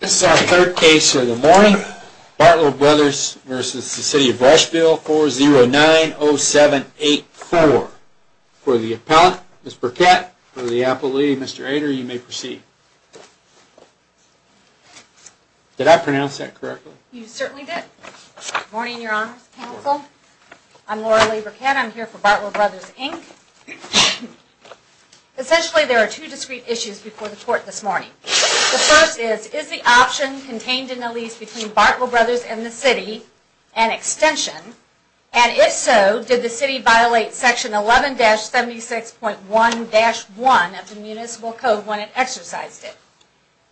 This is our third case of the morning, Bartlow Bros. v. City of Rushville, 4090784. For the appellant, Ms. Burkett, for the appellee, Mr. Ader, you may proceed. Did I pronounce that correctly? You certainly did. Good morning, Your Honors Counsel. I'm Laura Lee Burkett. I'm here for Bartlow Bros., Inc. Essentially, there are two discrete issues before the court this morning. The first is, is the option contained in the lease between Bartlow Bros. and the City an extension? And if so, did the City violate Section 11-76.1-1 of the Municipal Code when it exercised it?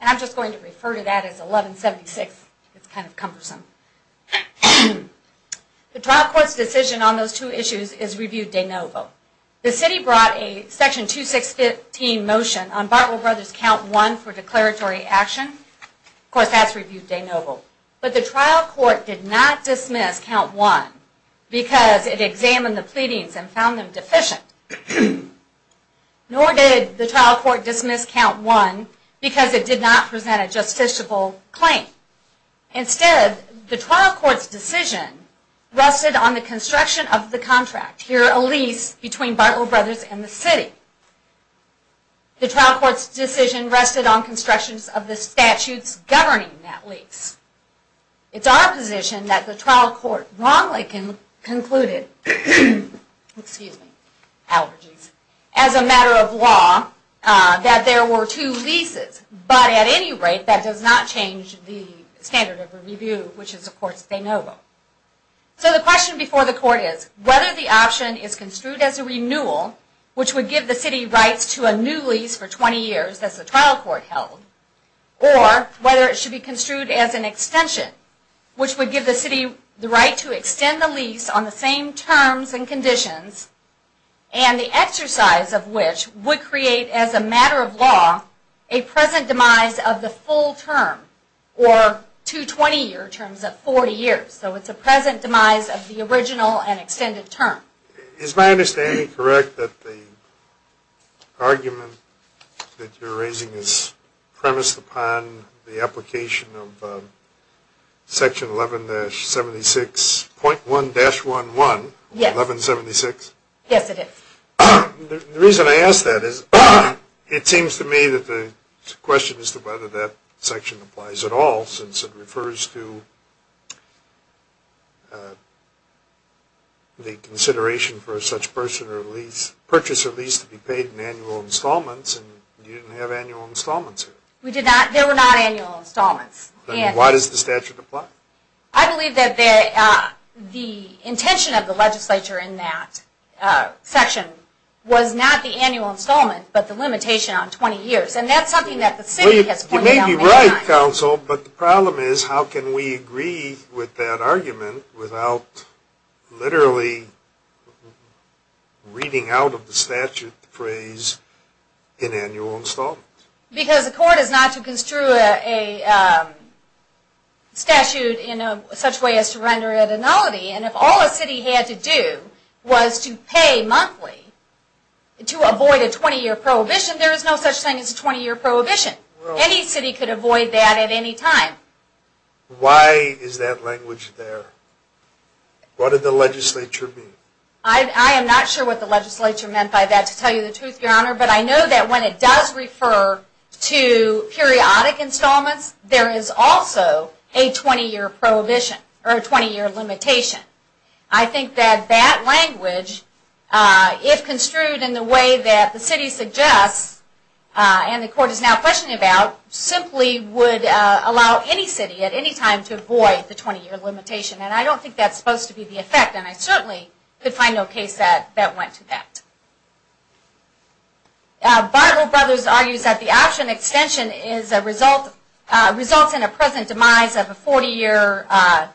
And I'm just going to refer to that as 1176. It's kind of cumbersome. The trial court's decision on those two issues is Review de Novo. The City brought a Section 2615 motion on Bartlow Bros. Count 1 for declaratory action. Of course, that's Review de Novo. But the trial court did not dismiss Count 1 because it examined the pleadings and found them deficient. Nor did the trial court dismiss Count 1 because it did not present a justiciable claim. Instead, the trial court's decision rested on the construction of the The trial court's decision rested on construction of the statutes governing that lease. It's our position that the trial court wrongly concluded, excuse me, allergies, as a matter of law, that there were two leases. But at any rate, that does not change the standard of review, which is, of course, de novo. So the question before the court is, whether the option is construed as a renewal, which would give the City rights to a new lease for 20 years, as the trial court held, or whether it should be construed as an extension, which would give the City the right to extend the lease on the same terms and conditions, and the exercise of which would create, as a matter of law, a present demise of the full term, or two 20-year terms of 40 years. So it's a present demise of the original and extended term. Is my understanding correct that the argument that you're raising is premised upon the application of Section 11-76.1-11, 1176? Yes, it is. The reason I ask that is, it seems to me that the question is whether that section applies at all, since it refers to the consideration for such purchase or lease to be paid in annual installments, and you didn't have annual installments here. We did not. There were not annual installments. Why does the statute apply? I believe that the intention of the legislature in that section was not the annual installment, but the limitation on 20 years. And that's something that the City has pointed out many times. You're right, counsel, but the problem is how can we agree with that argument without literally reading out of the statute the phrase, in annual installments? Because the court is not to construe a statute in such a way as to render it a nullity. And if all a City had to do was to pay monthly to avoid a 20-year prohibition, there is no such thing as a 20-year prohibition. Any City could avoid that at any time. Why is that language there? What did the legislature mean? I am not sure what the legislature meant by that, to tell you the truth, Your Honor, but I know that when it does refer to periodic installments, there is also a 20-year prohibition or a 20-year limitation. I think that that language, if construed in the way that the City suggests and the court is now questioning about, simply would allow any City at any time to avoid the 20-year limitation. And I don't think that's supposed to be the effect, and I certainly could find no case that went to that. Bartlett Brothers argues that the option extension results in a present demise of a 40-year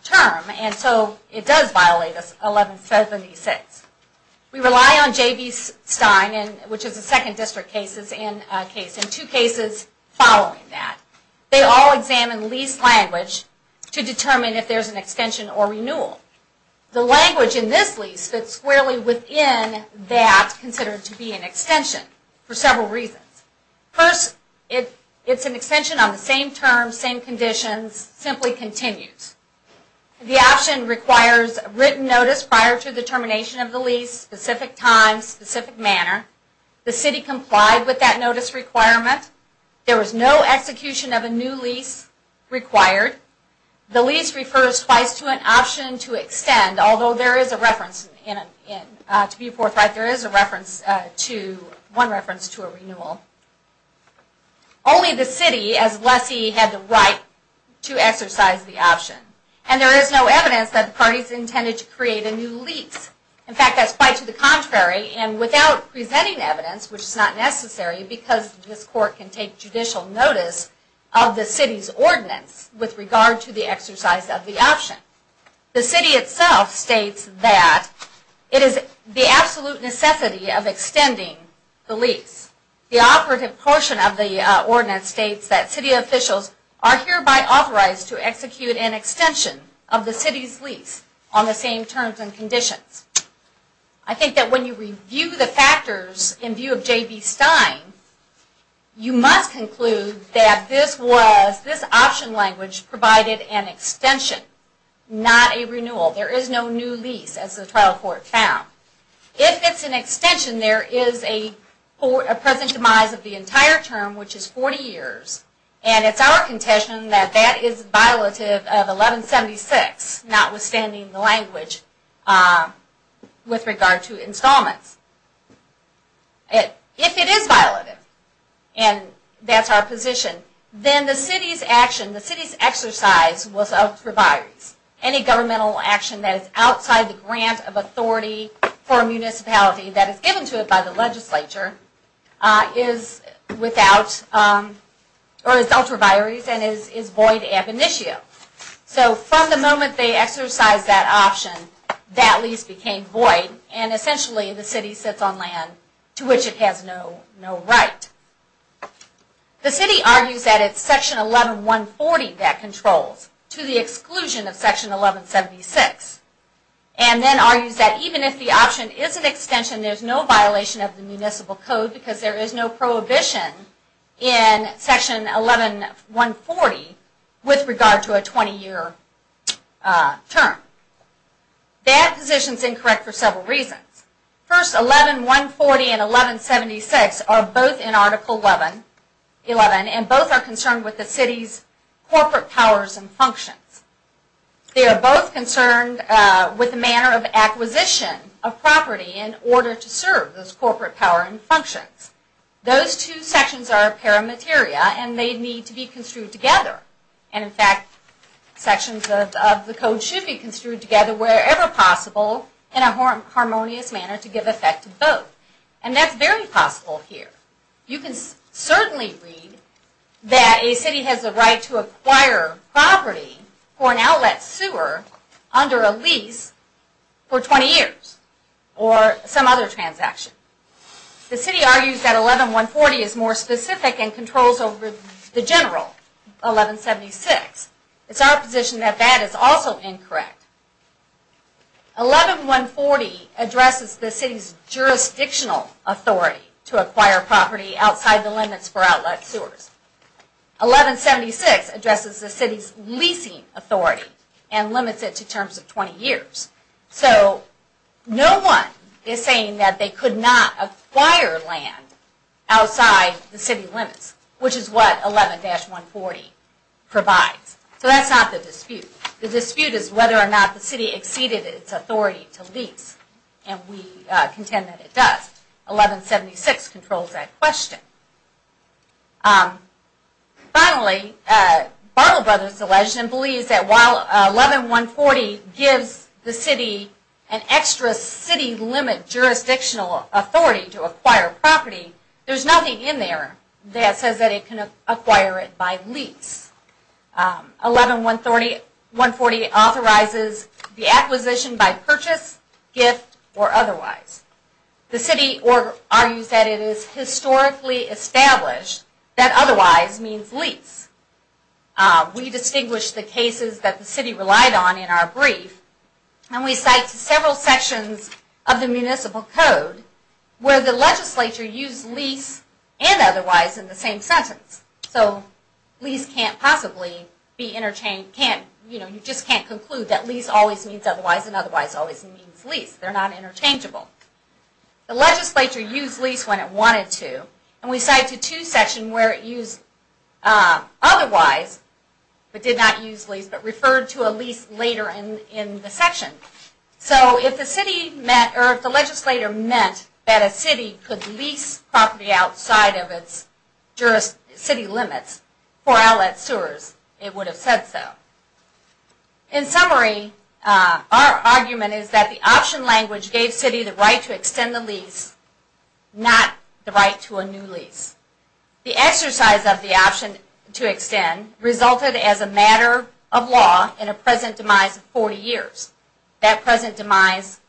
term, and so it does violate 1176. We rely on J.B. Stein, which is a second district case, and two cases following that. They all examine lease language to determine if there is an extension or renewal. The language in this lease fits squarely within that considered to be an extension for several reasons. First, it's an extension on the same terms, same conditions, simply continues. The option requires written notice prior to the termination of the lease, specific time, specific manner. The City complied with that notice requirement. There was no execution of a new lease required. The lease refers twice to an option to extend, although there is a reference to a renewal. Only the City, as lessee, had the right to exercise the option, and there is no evidence that the parties intended to create a new lease. In fact, that's quite to the contrary, and without presenting evidence, which is not necessary because this Court can take judicial notice of the City's ordinance with regard to the exercise of the option. The City itself states that it is the absolute necessity of extending the lease. The operative portion of the ordinance states that City officials are hereby authorized to execute an extension of the City's lease on the same terms and conditions. I think that when you review the factors in view of J.B. Stein, you must conclude that this option language provided an extension, not a renewal. There is no new lease, as the trial court found. If it's an extension, there is a present demise of the entire term, which is 40 years, and it's our contention that that is violative of 1176, notwithstanding the language with regard to installments. If it is violative, and that's our position, then the City's action, the City's exercise, was ultraviaries. Any governmental action that is outside the grant of authority for a municipality that is given to it by the legislature is ultraviaries and is void ab initio. So from the moment they exercised that option, that lease became void, and essentially the City sits on land to which it has no right. The City argues that it's section 11-140 that controls, to the exclusion of section 11-76, and then argues that even if the option is an extension, there's no violation of the municipal code, because there is no prohibition in section 11-140 with regard to a 20 year term. That position is incorrect for several reasons. First, 11-140 and 11-76 are both in They are both concerned with the manner of acquisition of property in order to serve those corporate power and functions. Those two sections are paramateria, and they need to be construed together. And in fact, sections of the code should be construed together wherever possible in a harmonious manner to give effect to both. And that's very possible here. You can certainly read that a City has the right to acquire property for an outlet sewer under a lease for 20 years or some other transaction. The City argues that 11-140 is more specific and controls over the general 11-76. It's our position that that is also incorrect. 11-140 addresses the City's jurisdictional authority to acquire property outside the 11-76 addresses the City's leasing authority and limits it to terms of 20 years. So no one is saying that they could not acquire land outside the City limits, which is what 11-140 provides. So that's not the dispute. The dispute is whether or not the City exceeded its authority to lease, and we contend that it does. 11-76 controls that question. Finally, Barlow Brothers Alleged believes that while 11-140 gives the City an extra City limit jurisdictional authority to acquire property, there's nothing in there that says that it can acquire it by lease. 11-140 authorizes the acquisition by purchase, gift, or otherwise. The City argues that it is historically established that otherwise means lease. We distinguish the cases that the City relied on in our brief, and we cite several sections of the Municipal Code where the legislature used lease and otherwise in the same sentence. Lease can't possibly be interchanged. You just can't conclude that lease always means otherwise and otherwise always means lease. They're not interchangeable. The legislature used lease when it wanted to, and we cite the 2 section where it used otherwise, but did not use lease, but referred to a lease later in the section. So if the city meant, or if the legislature meant that a City could lease property outside of its City limits for outlet sewers, it would have said so. In summary, our argument is that the option language gave City the right to extend the lease, not the right to a new lease. The exercise of the option to extend resulted as a matter of law in a present demise of 40 years. That present demise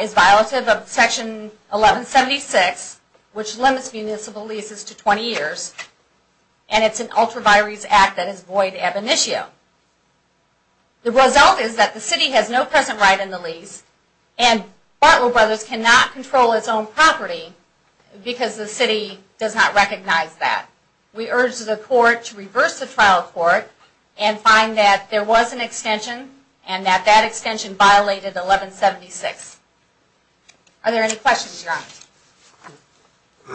is violative of Section 1176, which limits municipal leases to 20 years, and it's an ultraviarious act that is void ab initio. The result is that the City has no present right in the lease, and Bartlow Brothers cannot control its own property because the City does not recognize that. We urge the court to reverse the trial court and find that there was an extension and that that extension violated 1176. Are there any questions, Your Honor?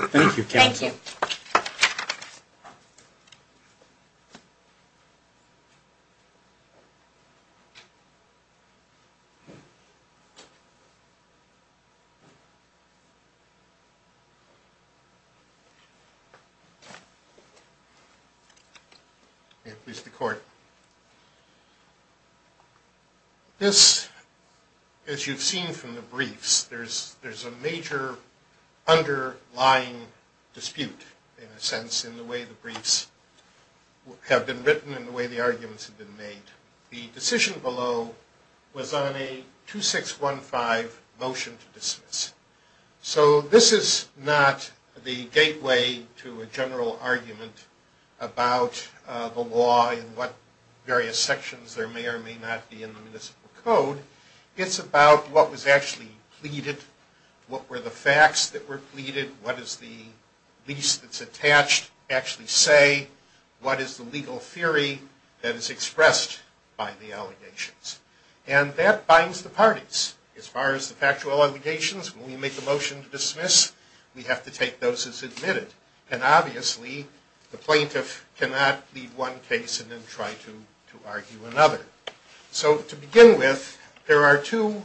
Thank you, counsel. May it please the court. This, as you've seen from the briefs, there's a major underlying dispute, in a sense, in the way the briefs have been written and the way the arguments have been made. The decision below was on a 2615 motion to dismiss. So this is not the gateway to a general argument about the law and what various sections there may or may not be in the municipal code. It's about what was actually pleaded, what were the facts that were pleaded, what does the lease that's attached actually say, what is the legal theory that is expressed by the allegations. And that binds the parties. As far as the factual allegations, when we make the motion to dismiss, we have to take those as admitted. And obviously, the plaintiff cannot leave one case and then try to argue another. So to begin with, there are two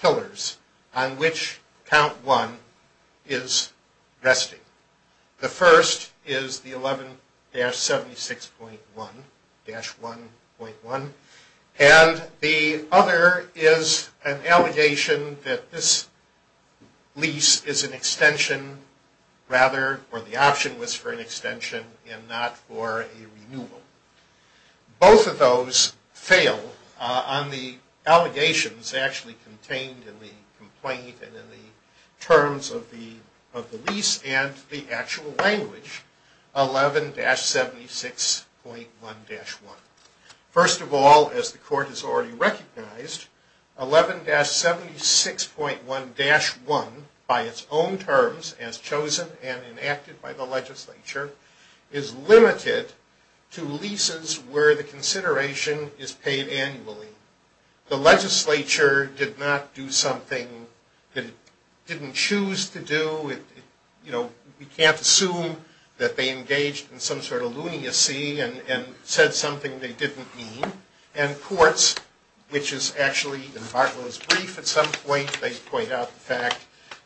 pillars on which Count 1 is resting. The first is the 11-76.1-1.1. And the other is an allegation that this lease is an extension, rather, or the option was for an extension and not for a renewal. Both of those fail on the allegations actually contained in the complaint and in the terms of the lease and the actual language, 11-76.1-1. First of all, as the court has already recognized, 11-76.1-1, by its own terms as chosen and enacted by the legislature, is limited to leases where the consideration is paid annually. The legislature did not do something that it didn't choose to do. You know, we can't assume that they engaged in some sort of lunacy and said something they didn't mean. And courts, which is actually in Bartlow's brief at some point, they point out the fact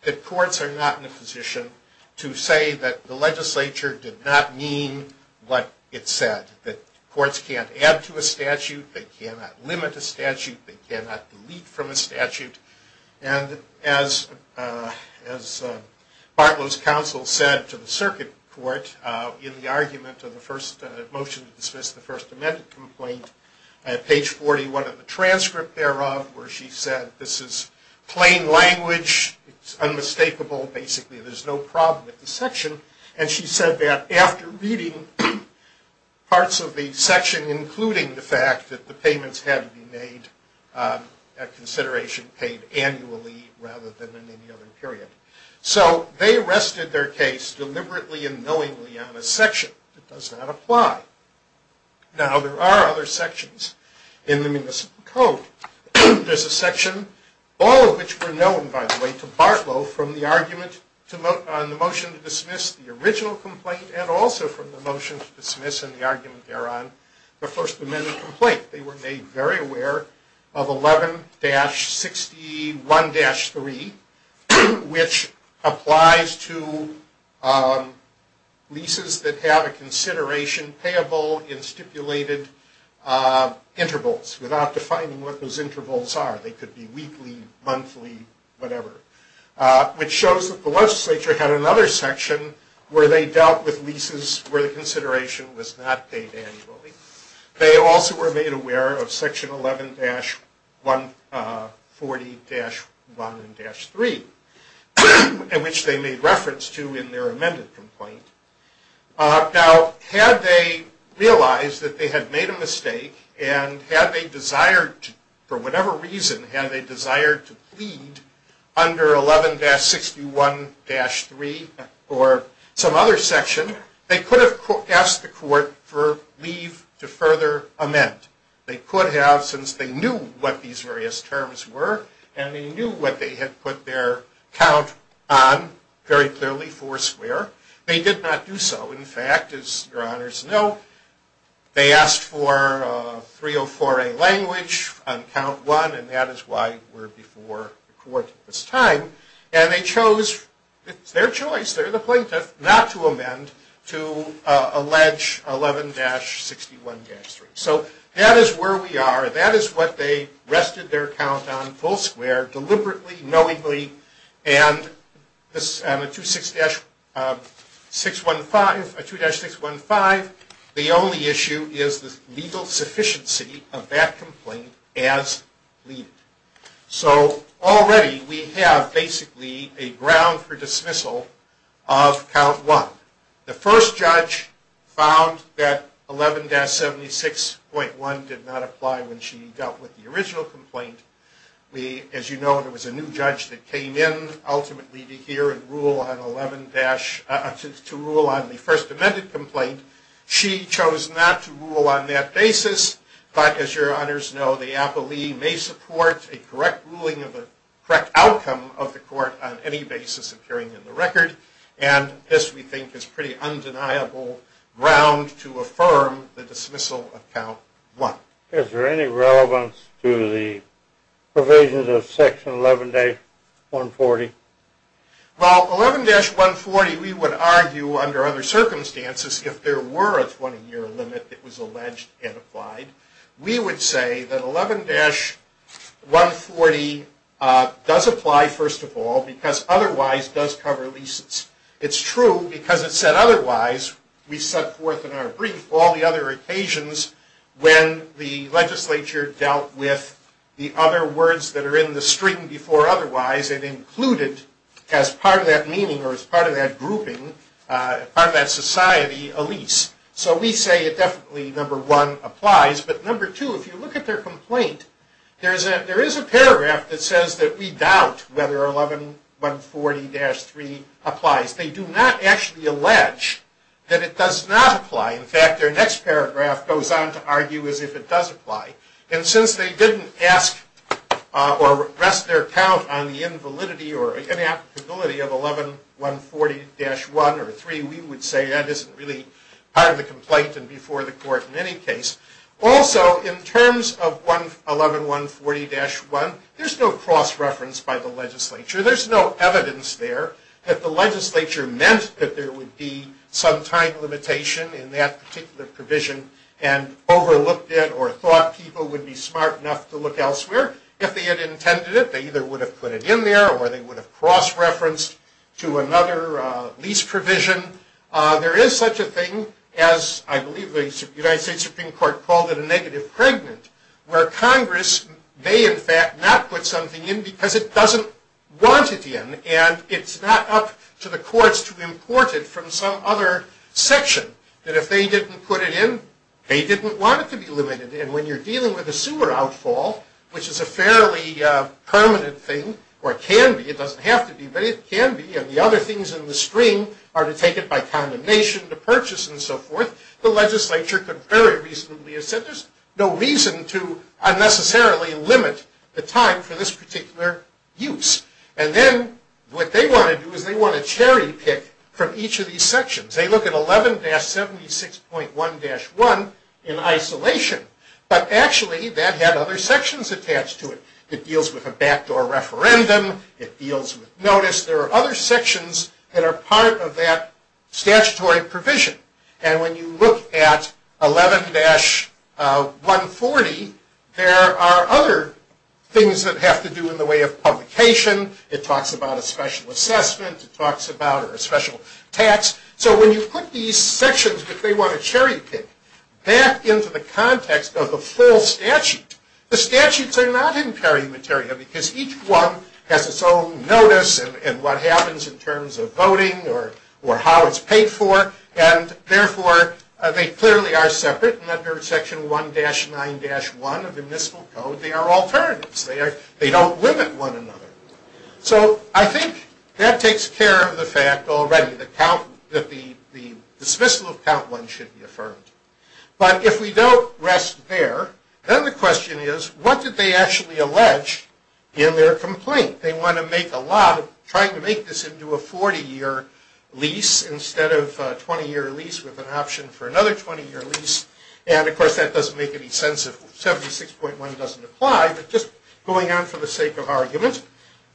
that courts are not in a position to say that the legislature did not mean what it said. That courts can't add to a statute, they cannot limit a statute, they cannot delete from a statute. And as Bartlow's counsel said to the circuit court in the argument of the first motion to dismiss the First Amendment complaint, at page 41 of the transcript thereof, where she said this is plain language, it's unmistakable, basically there's no problem with the section. And she said that after reading parts of the section, including the fact that the payments had to be made at consideration paid annually rather than in any other period. So they arrested their case deliberately and knowingly on a section that does not apply. Now there are other sections in the Municipal Code. There's a section, all of which were known, by the way, to Bartlow from the argument on the motion to dismiss the original complaint and also from the motion to dismiss the argument thereon, the First Amendment complaint. They were made very aware of 11-61-3, which applies to leases that have a consideration payable in stipulated intervals without defining what those intervals are. They could be weekly, monthly, whatever. Which shows that the legislature had another section where they dealt with leases where the consideration was not paid annually. They also were made aware of section 11-140-1-3, which they made reference to in their amended complaint. Now had they realized that they had made a mistake and had they desired, for whatever reason, had they desired to plead under 11-61-3 or some other section, they could have asked the court for leave to further amend. They could have since they knew what these various terms were and they knew what they had put their count on, very clearly four square. They did not do so. In 304A language, on count one, and that is why we're before the court at this time. And they chose, it's their choice, they're the plaintiff, not to amend to allege 11-61-3. So that is where we are. That is what they rested their count on, full square, deliberately, knowingly, and on a 2-615, the only issue is the legal sufficiency of that complaint as pleaded. So already we have, basically, a ground for dismissal of count one. The first judge found that 11-76.1 did not apply when she dealt with the original complaint. As you know, there was a new judge that came in, ultimately, to hear and rule on the first amended complaint. She chose not to rule on that basis, but as your honors know, the appellee may support a correct ruling of the correct outcome of the court on any basis appearing in the record. And this, we think, is pretty undeniable ground to affirm the dismissal of count one. Is there any relevance to the provisions of section 11-140? Well, 11-140, we would argue, under other circumstances, if there were a 20-year limit that was alleged and applied, we would say that 11-140 does apply, first of all, because otherwise does cover leases. It's true because it said otherwise. We set forth in our brief all the other occasions when the legislature dealt with the other words that are in the string before otherwise and included as part of that meaning or as part of that grouping, part of that society, a lease. So we say it definitely, number one, applies. But number two, if you look at their complaint, there is a paragraph that says that we doubt whether 11-140-3 applies. They do not actually allege that it does not apply. In fact, their next paragraph goes on to argue as if it does apply. And since they didn't ask or rest their count on the invalidity or inapplicability of 11-140-1 or 3, we would say that isn't really part of the complaint and before the court in any case. Also, in terms of 11-140-1, there's no cross-reference by the legislature. There's no evidence there that the legislature meant that there would be some time limitation in that particular provision and overlooked it or thought people would be smart enough to look would have put it in there or they would have cross-referenced to another lease provision. There is such a thing as I believe the United States Supreme Court called it a negative pregnant where Congress may in fact not put something in because it doesn't want it in and it's not up to the courts to import it from some other section that if they didn't put it in, they didn't want it to be limited. And when you're dealing with a or can be, it doesn't have to be, but it can be and the other things in the stream are to take it by condemnation to purchase and so forth, the legislature could very reasonably have said there's no reason to unnecessarily limit the time for this particular use. And then what they want to do is they want to cherry pick from each of these sections. They look at 11-76.1-1 in isolation, but actually that had other sections attached to it. It deals with a backdoor referendum. It deals with notice. There are other sections that are part of that statutory provision. And when you look at 11-140, there are other things that have to do in the way of publication. It talks about a special assessment. It talks about a special tax. So when you put these sections that they want to cherry pick back into the context of the full statute, the statutes are not in perimeteria because each one has its own notice and what happens in terms of voting or how it's paid for. And therefore, they clearly are separate. And under Section 1-9-1 of the Municipal Code, they are alternatives. They don't limit one another. So I think that takes care of the fact already that the dismissal of Count 1 should be affirmed. But if we don't rest there, then the question is what did they actually allege in their complaint? They want to make a lot of trying to make this into a 40-year lease instead of a 20-year lease with an option for another 20-year lease. And of course, that doesn't make any sense if 76.1 doesn't apply. But just going on for the sake of argument,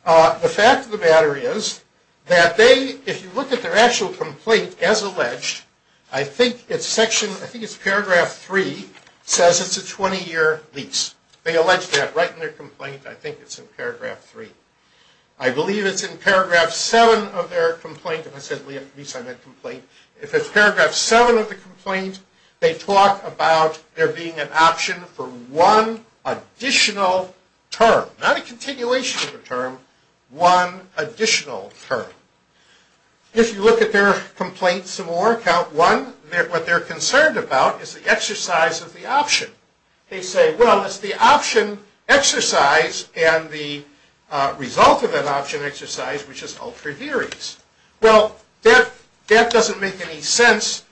the fact of the matter is that they, if you look at their actual complaint as alleged, I think it's section, I think it's paragraph 3, says it's a 20-year lease. They allege that right in their complaint. I think it's in paragraph 3. I believe it's in paragraph 7 of their complaint. I said lease on that complaint. If it's paragraph 7 of the complaint, they talk about there being an option for one additional term. Not a continuation of a term, one additional term. If you look at their complaint some more, Count 1, what they're concerned about is the exercise of the option. They say, well, it's the option exercise and the result of that option exercise, which is ultra-duries. Well, that doesn't make any sense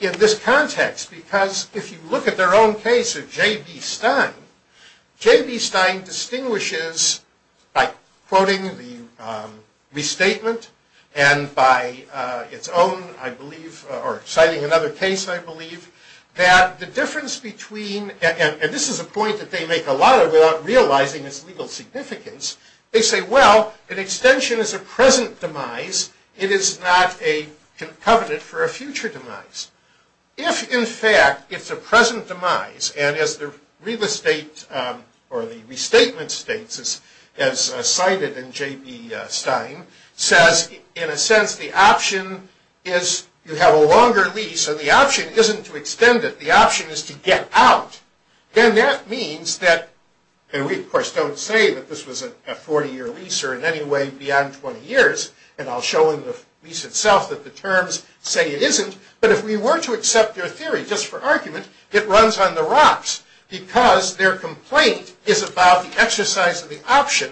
in this context because if you look at their own case of J.B. Stein, J.B. Stein distinguishes by quoting the restatement and by its own, I believe, or citing another case, I believe, that the difference between, and this is a point that they make a lot of without realizing its legal significance, they say, well, an extension is a present demise. It is not a covenant for a future demise. If, in fact, it's a present demise and as the real estate or the restatement states, as cited in J.B. Stein, says, in a sense, the option is you have a longer lease and the option isn't to extend it. The option is to get out. Then that means that, and we, of course, don't say that this was a 40-year lease or in any way beyond 20 years, and I'll show in the lease itself that the terms say it isn't, but if we were to accept their theory, just for argument, it runs on the rocks because their complaint is about the exercise of the option,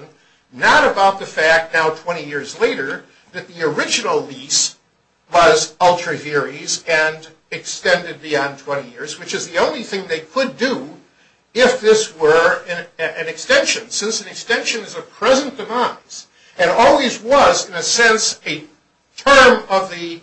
not about the fact now 20 years later that the original lease was ultra-heres and extended beyond 20 years, which is the only thing they could do if this were an extension. Since an extension is a present demise and always was, in a sense, a term of the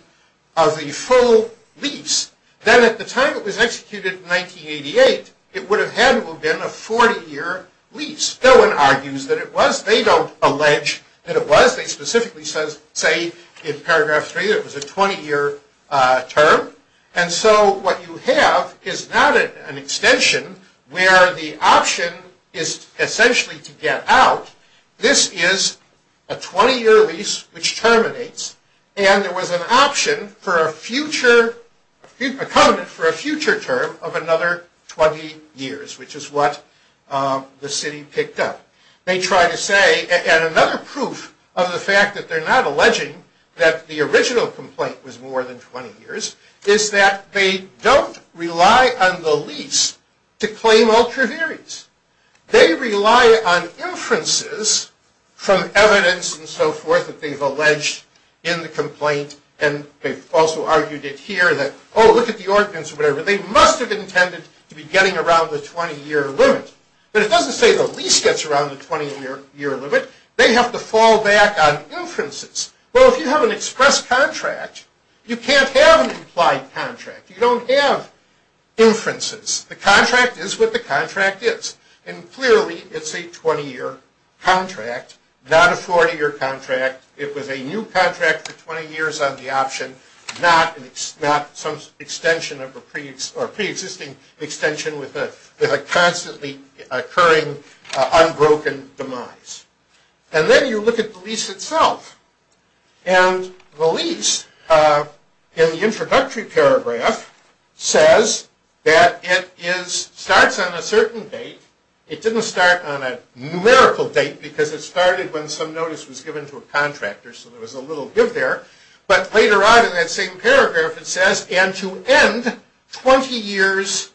full lease, then at the time it was executed in 1988, it would have had to have been a 40-year lease. Stoen argues that it was. They don't allege that it was. They specifically say in paragraph 3 that it was a 20-year term, and so what you have is not an extension where the option is essentially to get out. This is a 20-year lease which terminates, and there was an option for a future, a covenant for a future term of another 20 years, which is what the city picked up. They try to say, and another proof of the fact that they're not alleging that the original complaint was more than 20 years, is that they don't rely on the lease to claim ultra-heres. They rely on inferences from evidence and so forth that they've alleged in the complaint, and they've also argued it here that, oh, look at the ordinance or whatever. They must have intended to be getting around the 20-year limit, but it doesn't say the lease gets around the 20-year limit. They have to fall back on inferences. Well, if you have an express contract, you can't have an implied contract. You don't have inferences. The contract is what the contract is, and clearly it's a 20-year contract, not a 40-year contract. It was a new contract for 20 years on the option, not some extension of a pre-existing extension with a constantly occurring, unbroken demise. And then you look at the lease itself, and the lease in the introductory paragraph says that it starts on a certain date. It didn't start on a numerical date, because it started when some notice was given to a contractor, so there was a little give there. But later on in that same paragraph, it says, and to end 20 years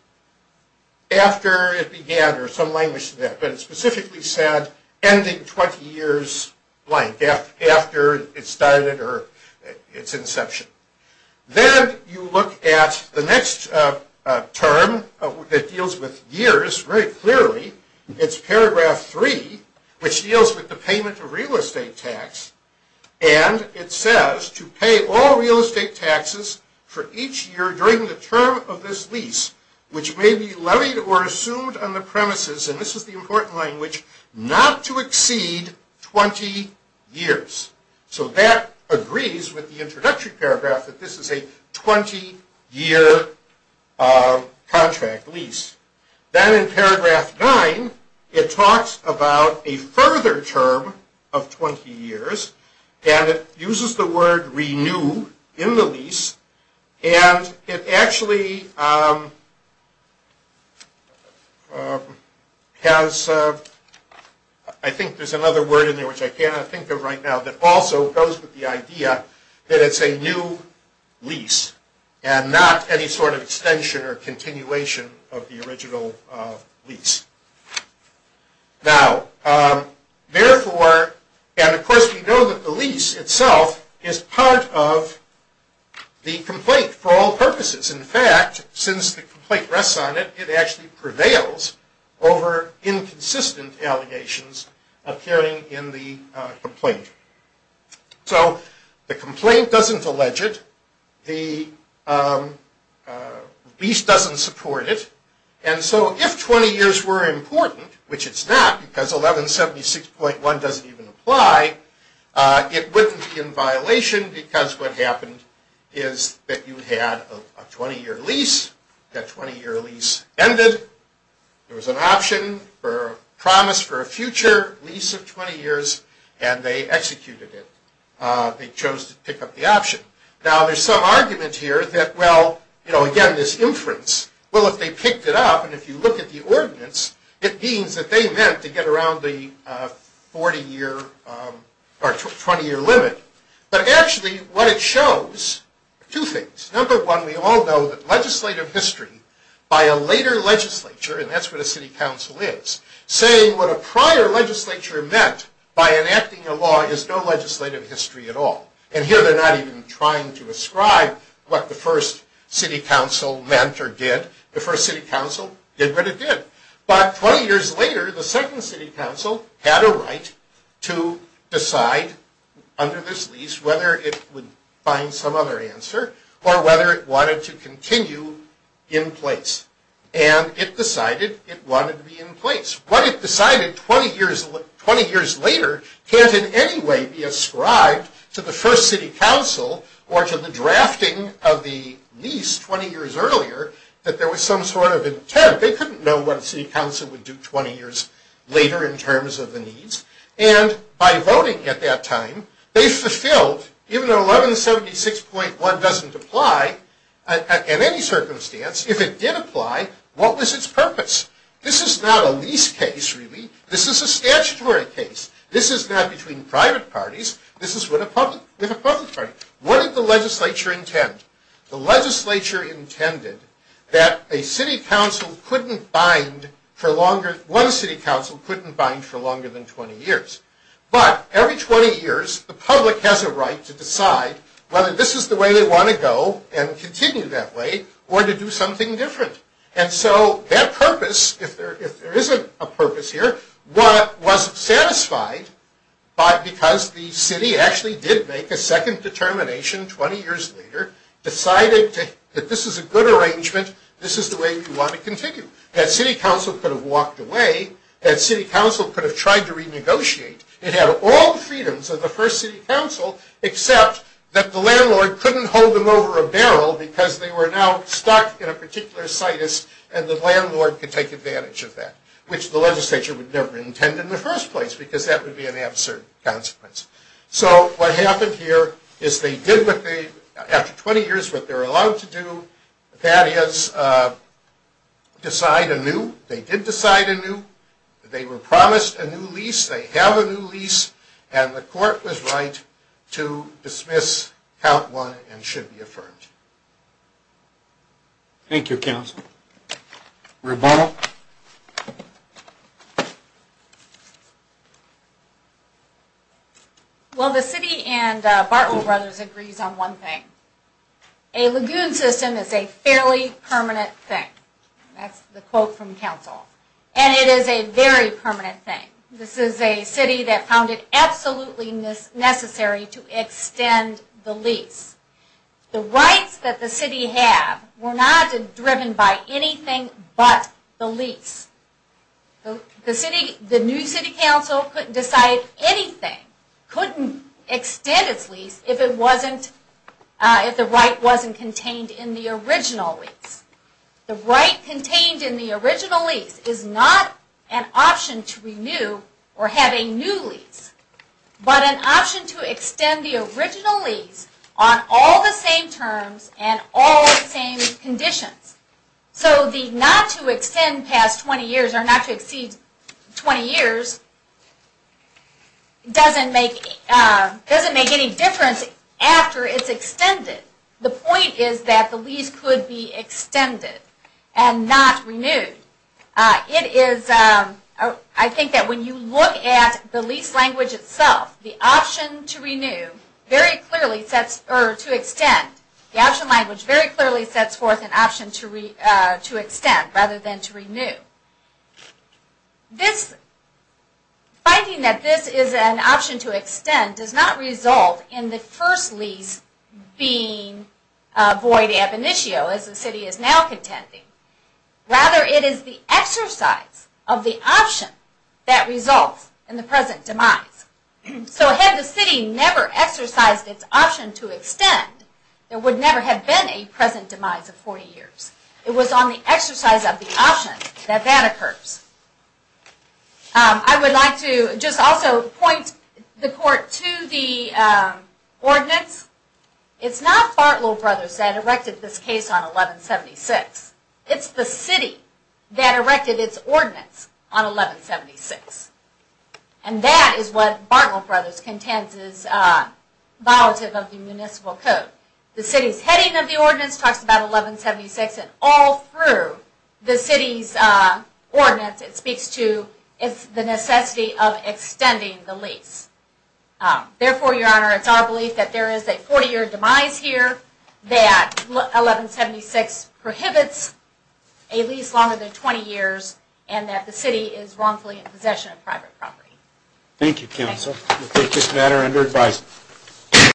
after it began, or some language to that, but it specifically said ending 20 years blank, after it started or its inception. Then you look at the next term that deals with years very clearly. It's paragraph 3, which deals with the payment of real estate tax, and it says to pay all real estate taxes for each year during the term of this lease, which may be levied or assumed on the premises, and this is the important language, not to exceed 20 years. So that agrees with the introductory paragraph that this is a 20-year contract lease. Then in paragraph 9, it talks about a further term of 20 years, and it uses the word renew in the lease, and it actually has, I think there's another word in there which I cannot think of right now that also goes with the idea that it's a new lease, and not any sort of extension or continuation of the original lease. Now, therefore, and of course we know that the lease itself is part of the complaint for all purposes. In fact, since the complaint rests on it, it actually prevails over inconsistent allegations occurring in the complaint. So the complaint doesn't allege it, the lease doesn't support it, and so if 20 years were important, which it's not because 1176.1 doesn't even apply, it wouldn't be in violation because what happened is that you had a 20-year lease, that 20-year lease ended, there was an option or promise for a future lease of 20 years, and they executed it. They chose to pick up the option. Now, there's some argument here that, well, you know, again, this inference, well, if they picked it up, and if you look at the ordinance, it means that they meant to get around the 40-year or 20-year limit. But actually, what it shows are two things. Number one, we all know that legislative history by a later legislature, and that's where the City Council is, saying what a prior legislature meant by enacting a law is no legislative history at all. And here they're not even trying to ascribe what the first City Council meant or did. The first City Council did what it did. But 20 years later, the second City Council had a right to decide under this lease whether it would find some other answer or whether it wanted to continue in place. And it decided it wanted to be in place. What it decided 20 years later can't in any way be ascribed to the first City Council or to the drafting of the lease 20 years earlier that there was some sort of intent. They couldn't know what a City Council would do 20 years later in terms of the needs. And by voting at that time, they fulfilled, even though 1176.1 doesn't apply in any circumstance, if it did apply, what was its purpose? This is not a lease case, really. This is a statutory case. This is not between private parties. This is with a public party. What did the legislature intend? The legislature intended that a City Council couldn't bind for longer, one City Council couldn't bind for longer than 20 years. But every 20 years, the public has a right to decide whether this is the way they want to go and continue that way or to do something different. And so that purpose, if there is a purpose here, was satisfied because the city actually did make a second determination 20 years later, decided that this is a good arrangement, this is the way we want to continue. That City Council could have walked away, that City Council could have tried to renegotiate. It had all the freedoms of the first City Council, except that the landlord couldn't hold them over a barrel because they were now stuck in a particular situs and the landlord could take advantage of that, which the legislature would never intend in the first place because that would be an absurd consequence. So what happened here is they did what they, after 20 years, what they were allowed to do, that is decide anew. They did decide anew, they were promised a new lease, they have a new lease, and the court was right to dismiss Count 1 and should be affirmed. Thank you very much. Thank you, Council. Rebuttal? Well, the City and Bartlett Brothers agrees on one thing. A lagoon system is a fairly permanent thing. That's the quote from Council. And it is a very permanent thing. This is a city that found it absolutely necessary to extend the lease. The rights that the city had were not driven by anything but the lease. The new City Council couldn't decide anything, couldn't extend its lease if the right wasn't contained in the original lease. The right contained in the original lease is not an option to renew or have a new lease, but an option to extend the original lease on all the same terms and all the same conditions. So the not to extend past 20 years or not to exceed 20 years doesn't make any difference after it's extended. The point is that the lease could be extended and not renewed. It is, I think that when you look at the lease language itself, the option to renew very clearly sets, or to extend, the option language very clearly sets forth an option to extend rather than to renew. This, finding that this is an option to extend does not result in the first lease being void ab initio as the City is now contending. Rather it is the exercise of the option that results in the present demise. So had the City never exercised its option to extend, there would never have been a present demise of 40 years. It was on the exercise of the option that that occurs. I would like to just also point the court to the ordinance. It's not Bartlow Brothers that erected this case on 1176. It's the City that erected its ordinance on 1176. And that is what Bartlow Brothers contends is violative of the Municipal Code. The City's heading of the ordinance talks about 1176 and all through the City's ordinance it speaks to the necessity of extending the lease. Therefore, Your Honor, it's our belief that there is a 40 year demise here, that 1176 prohibits a lease longer than 20 years, and that the City is wrongfully in possession of private property.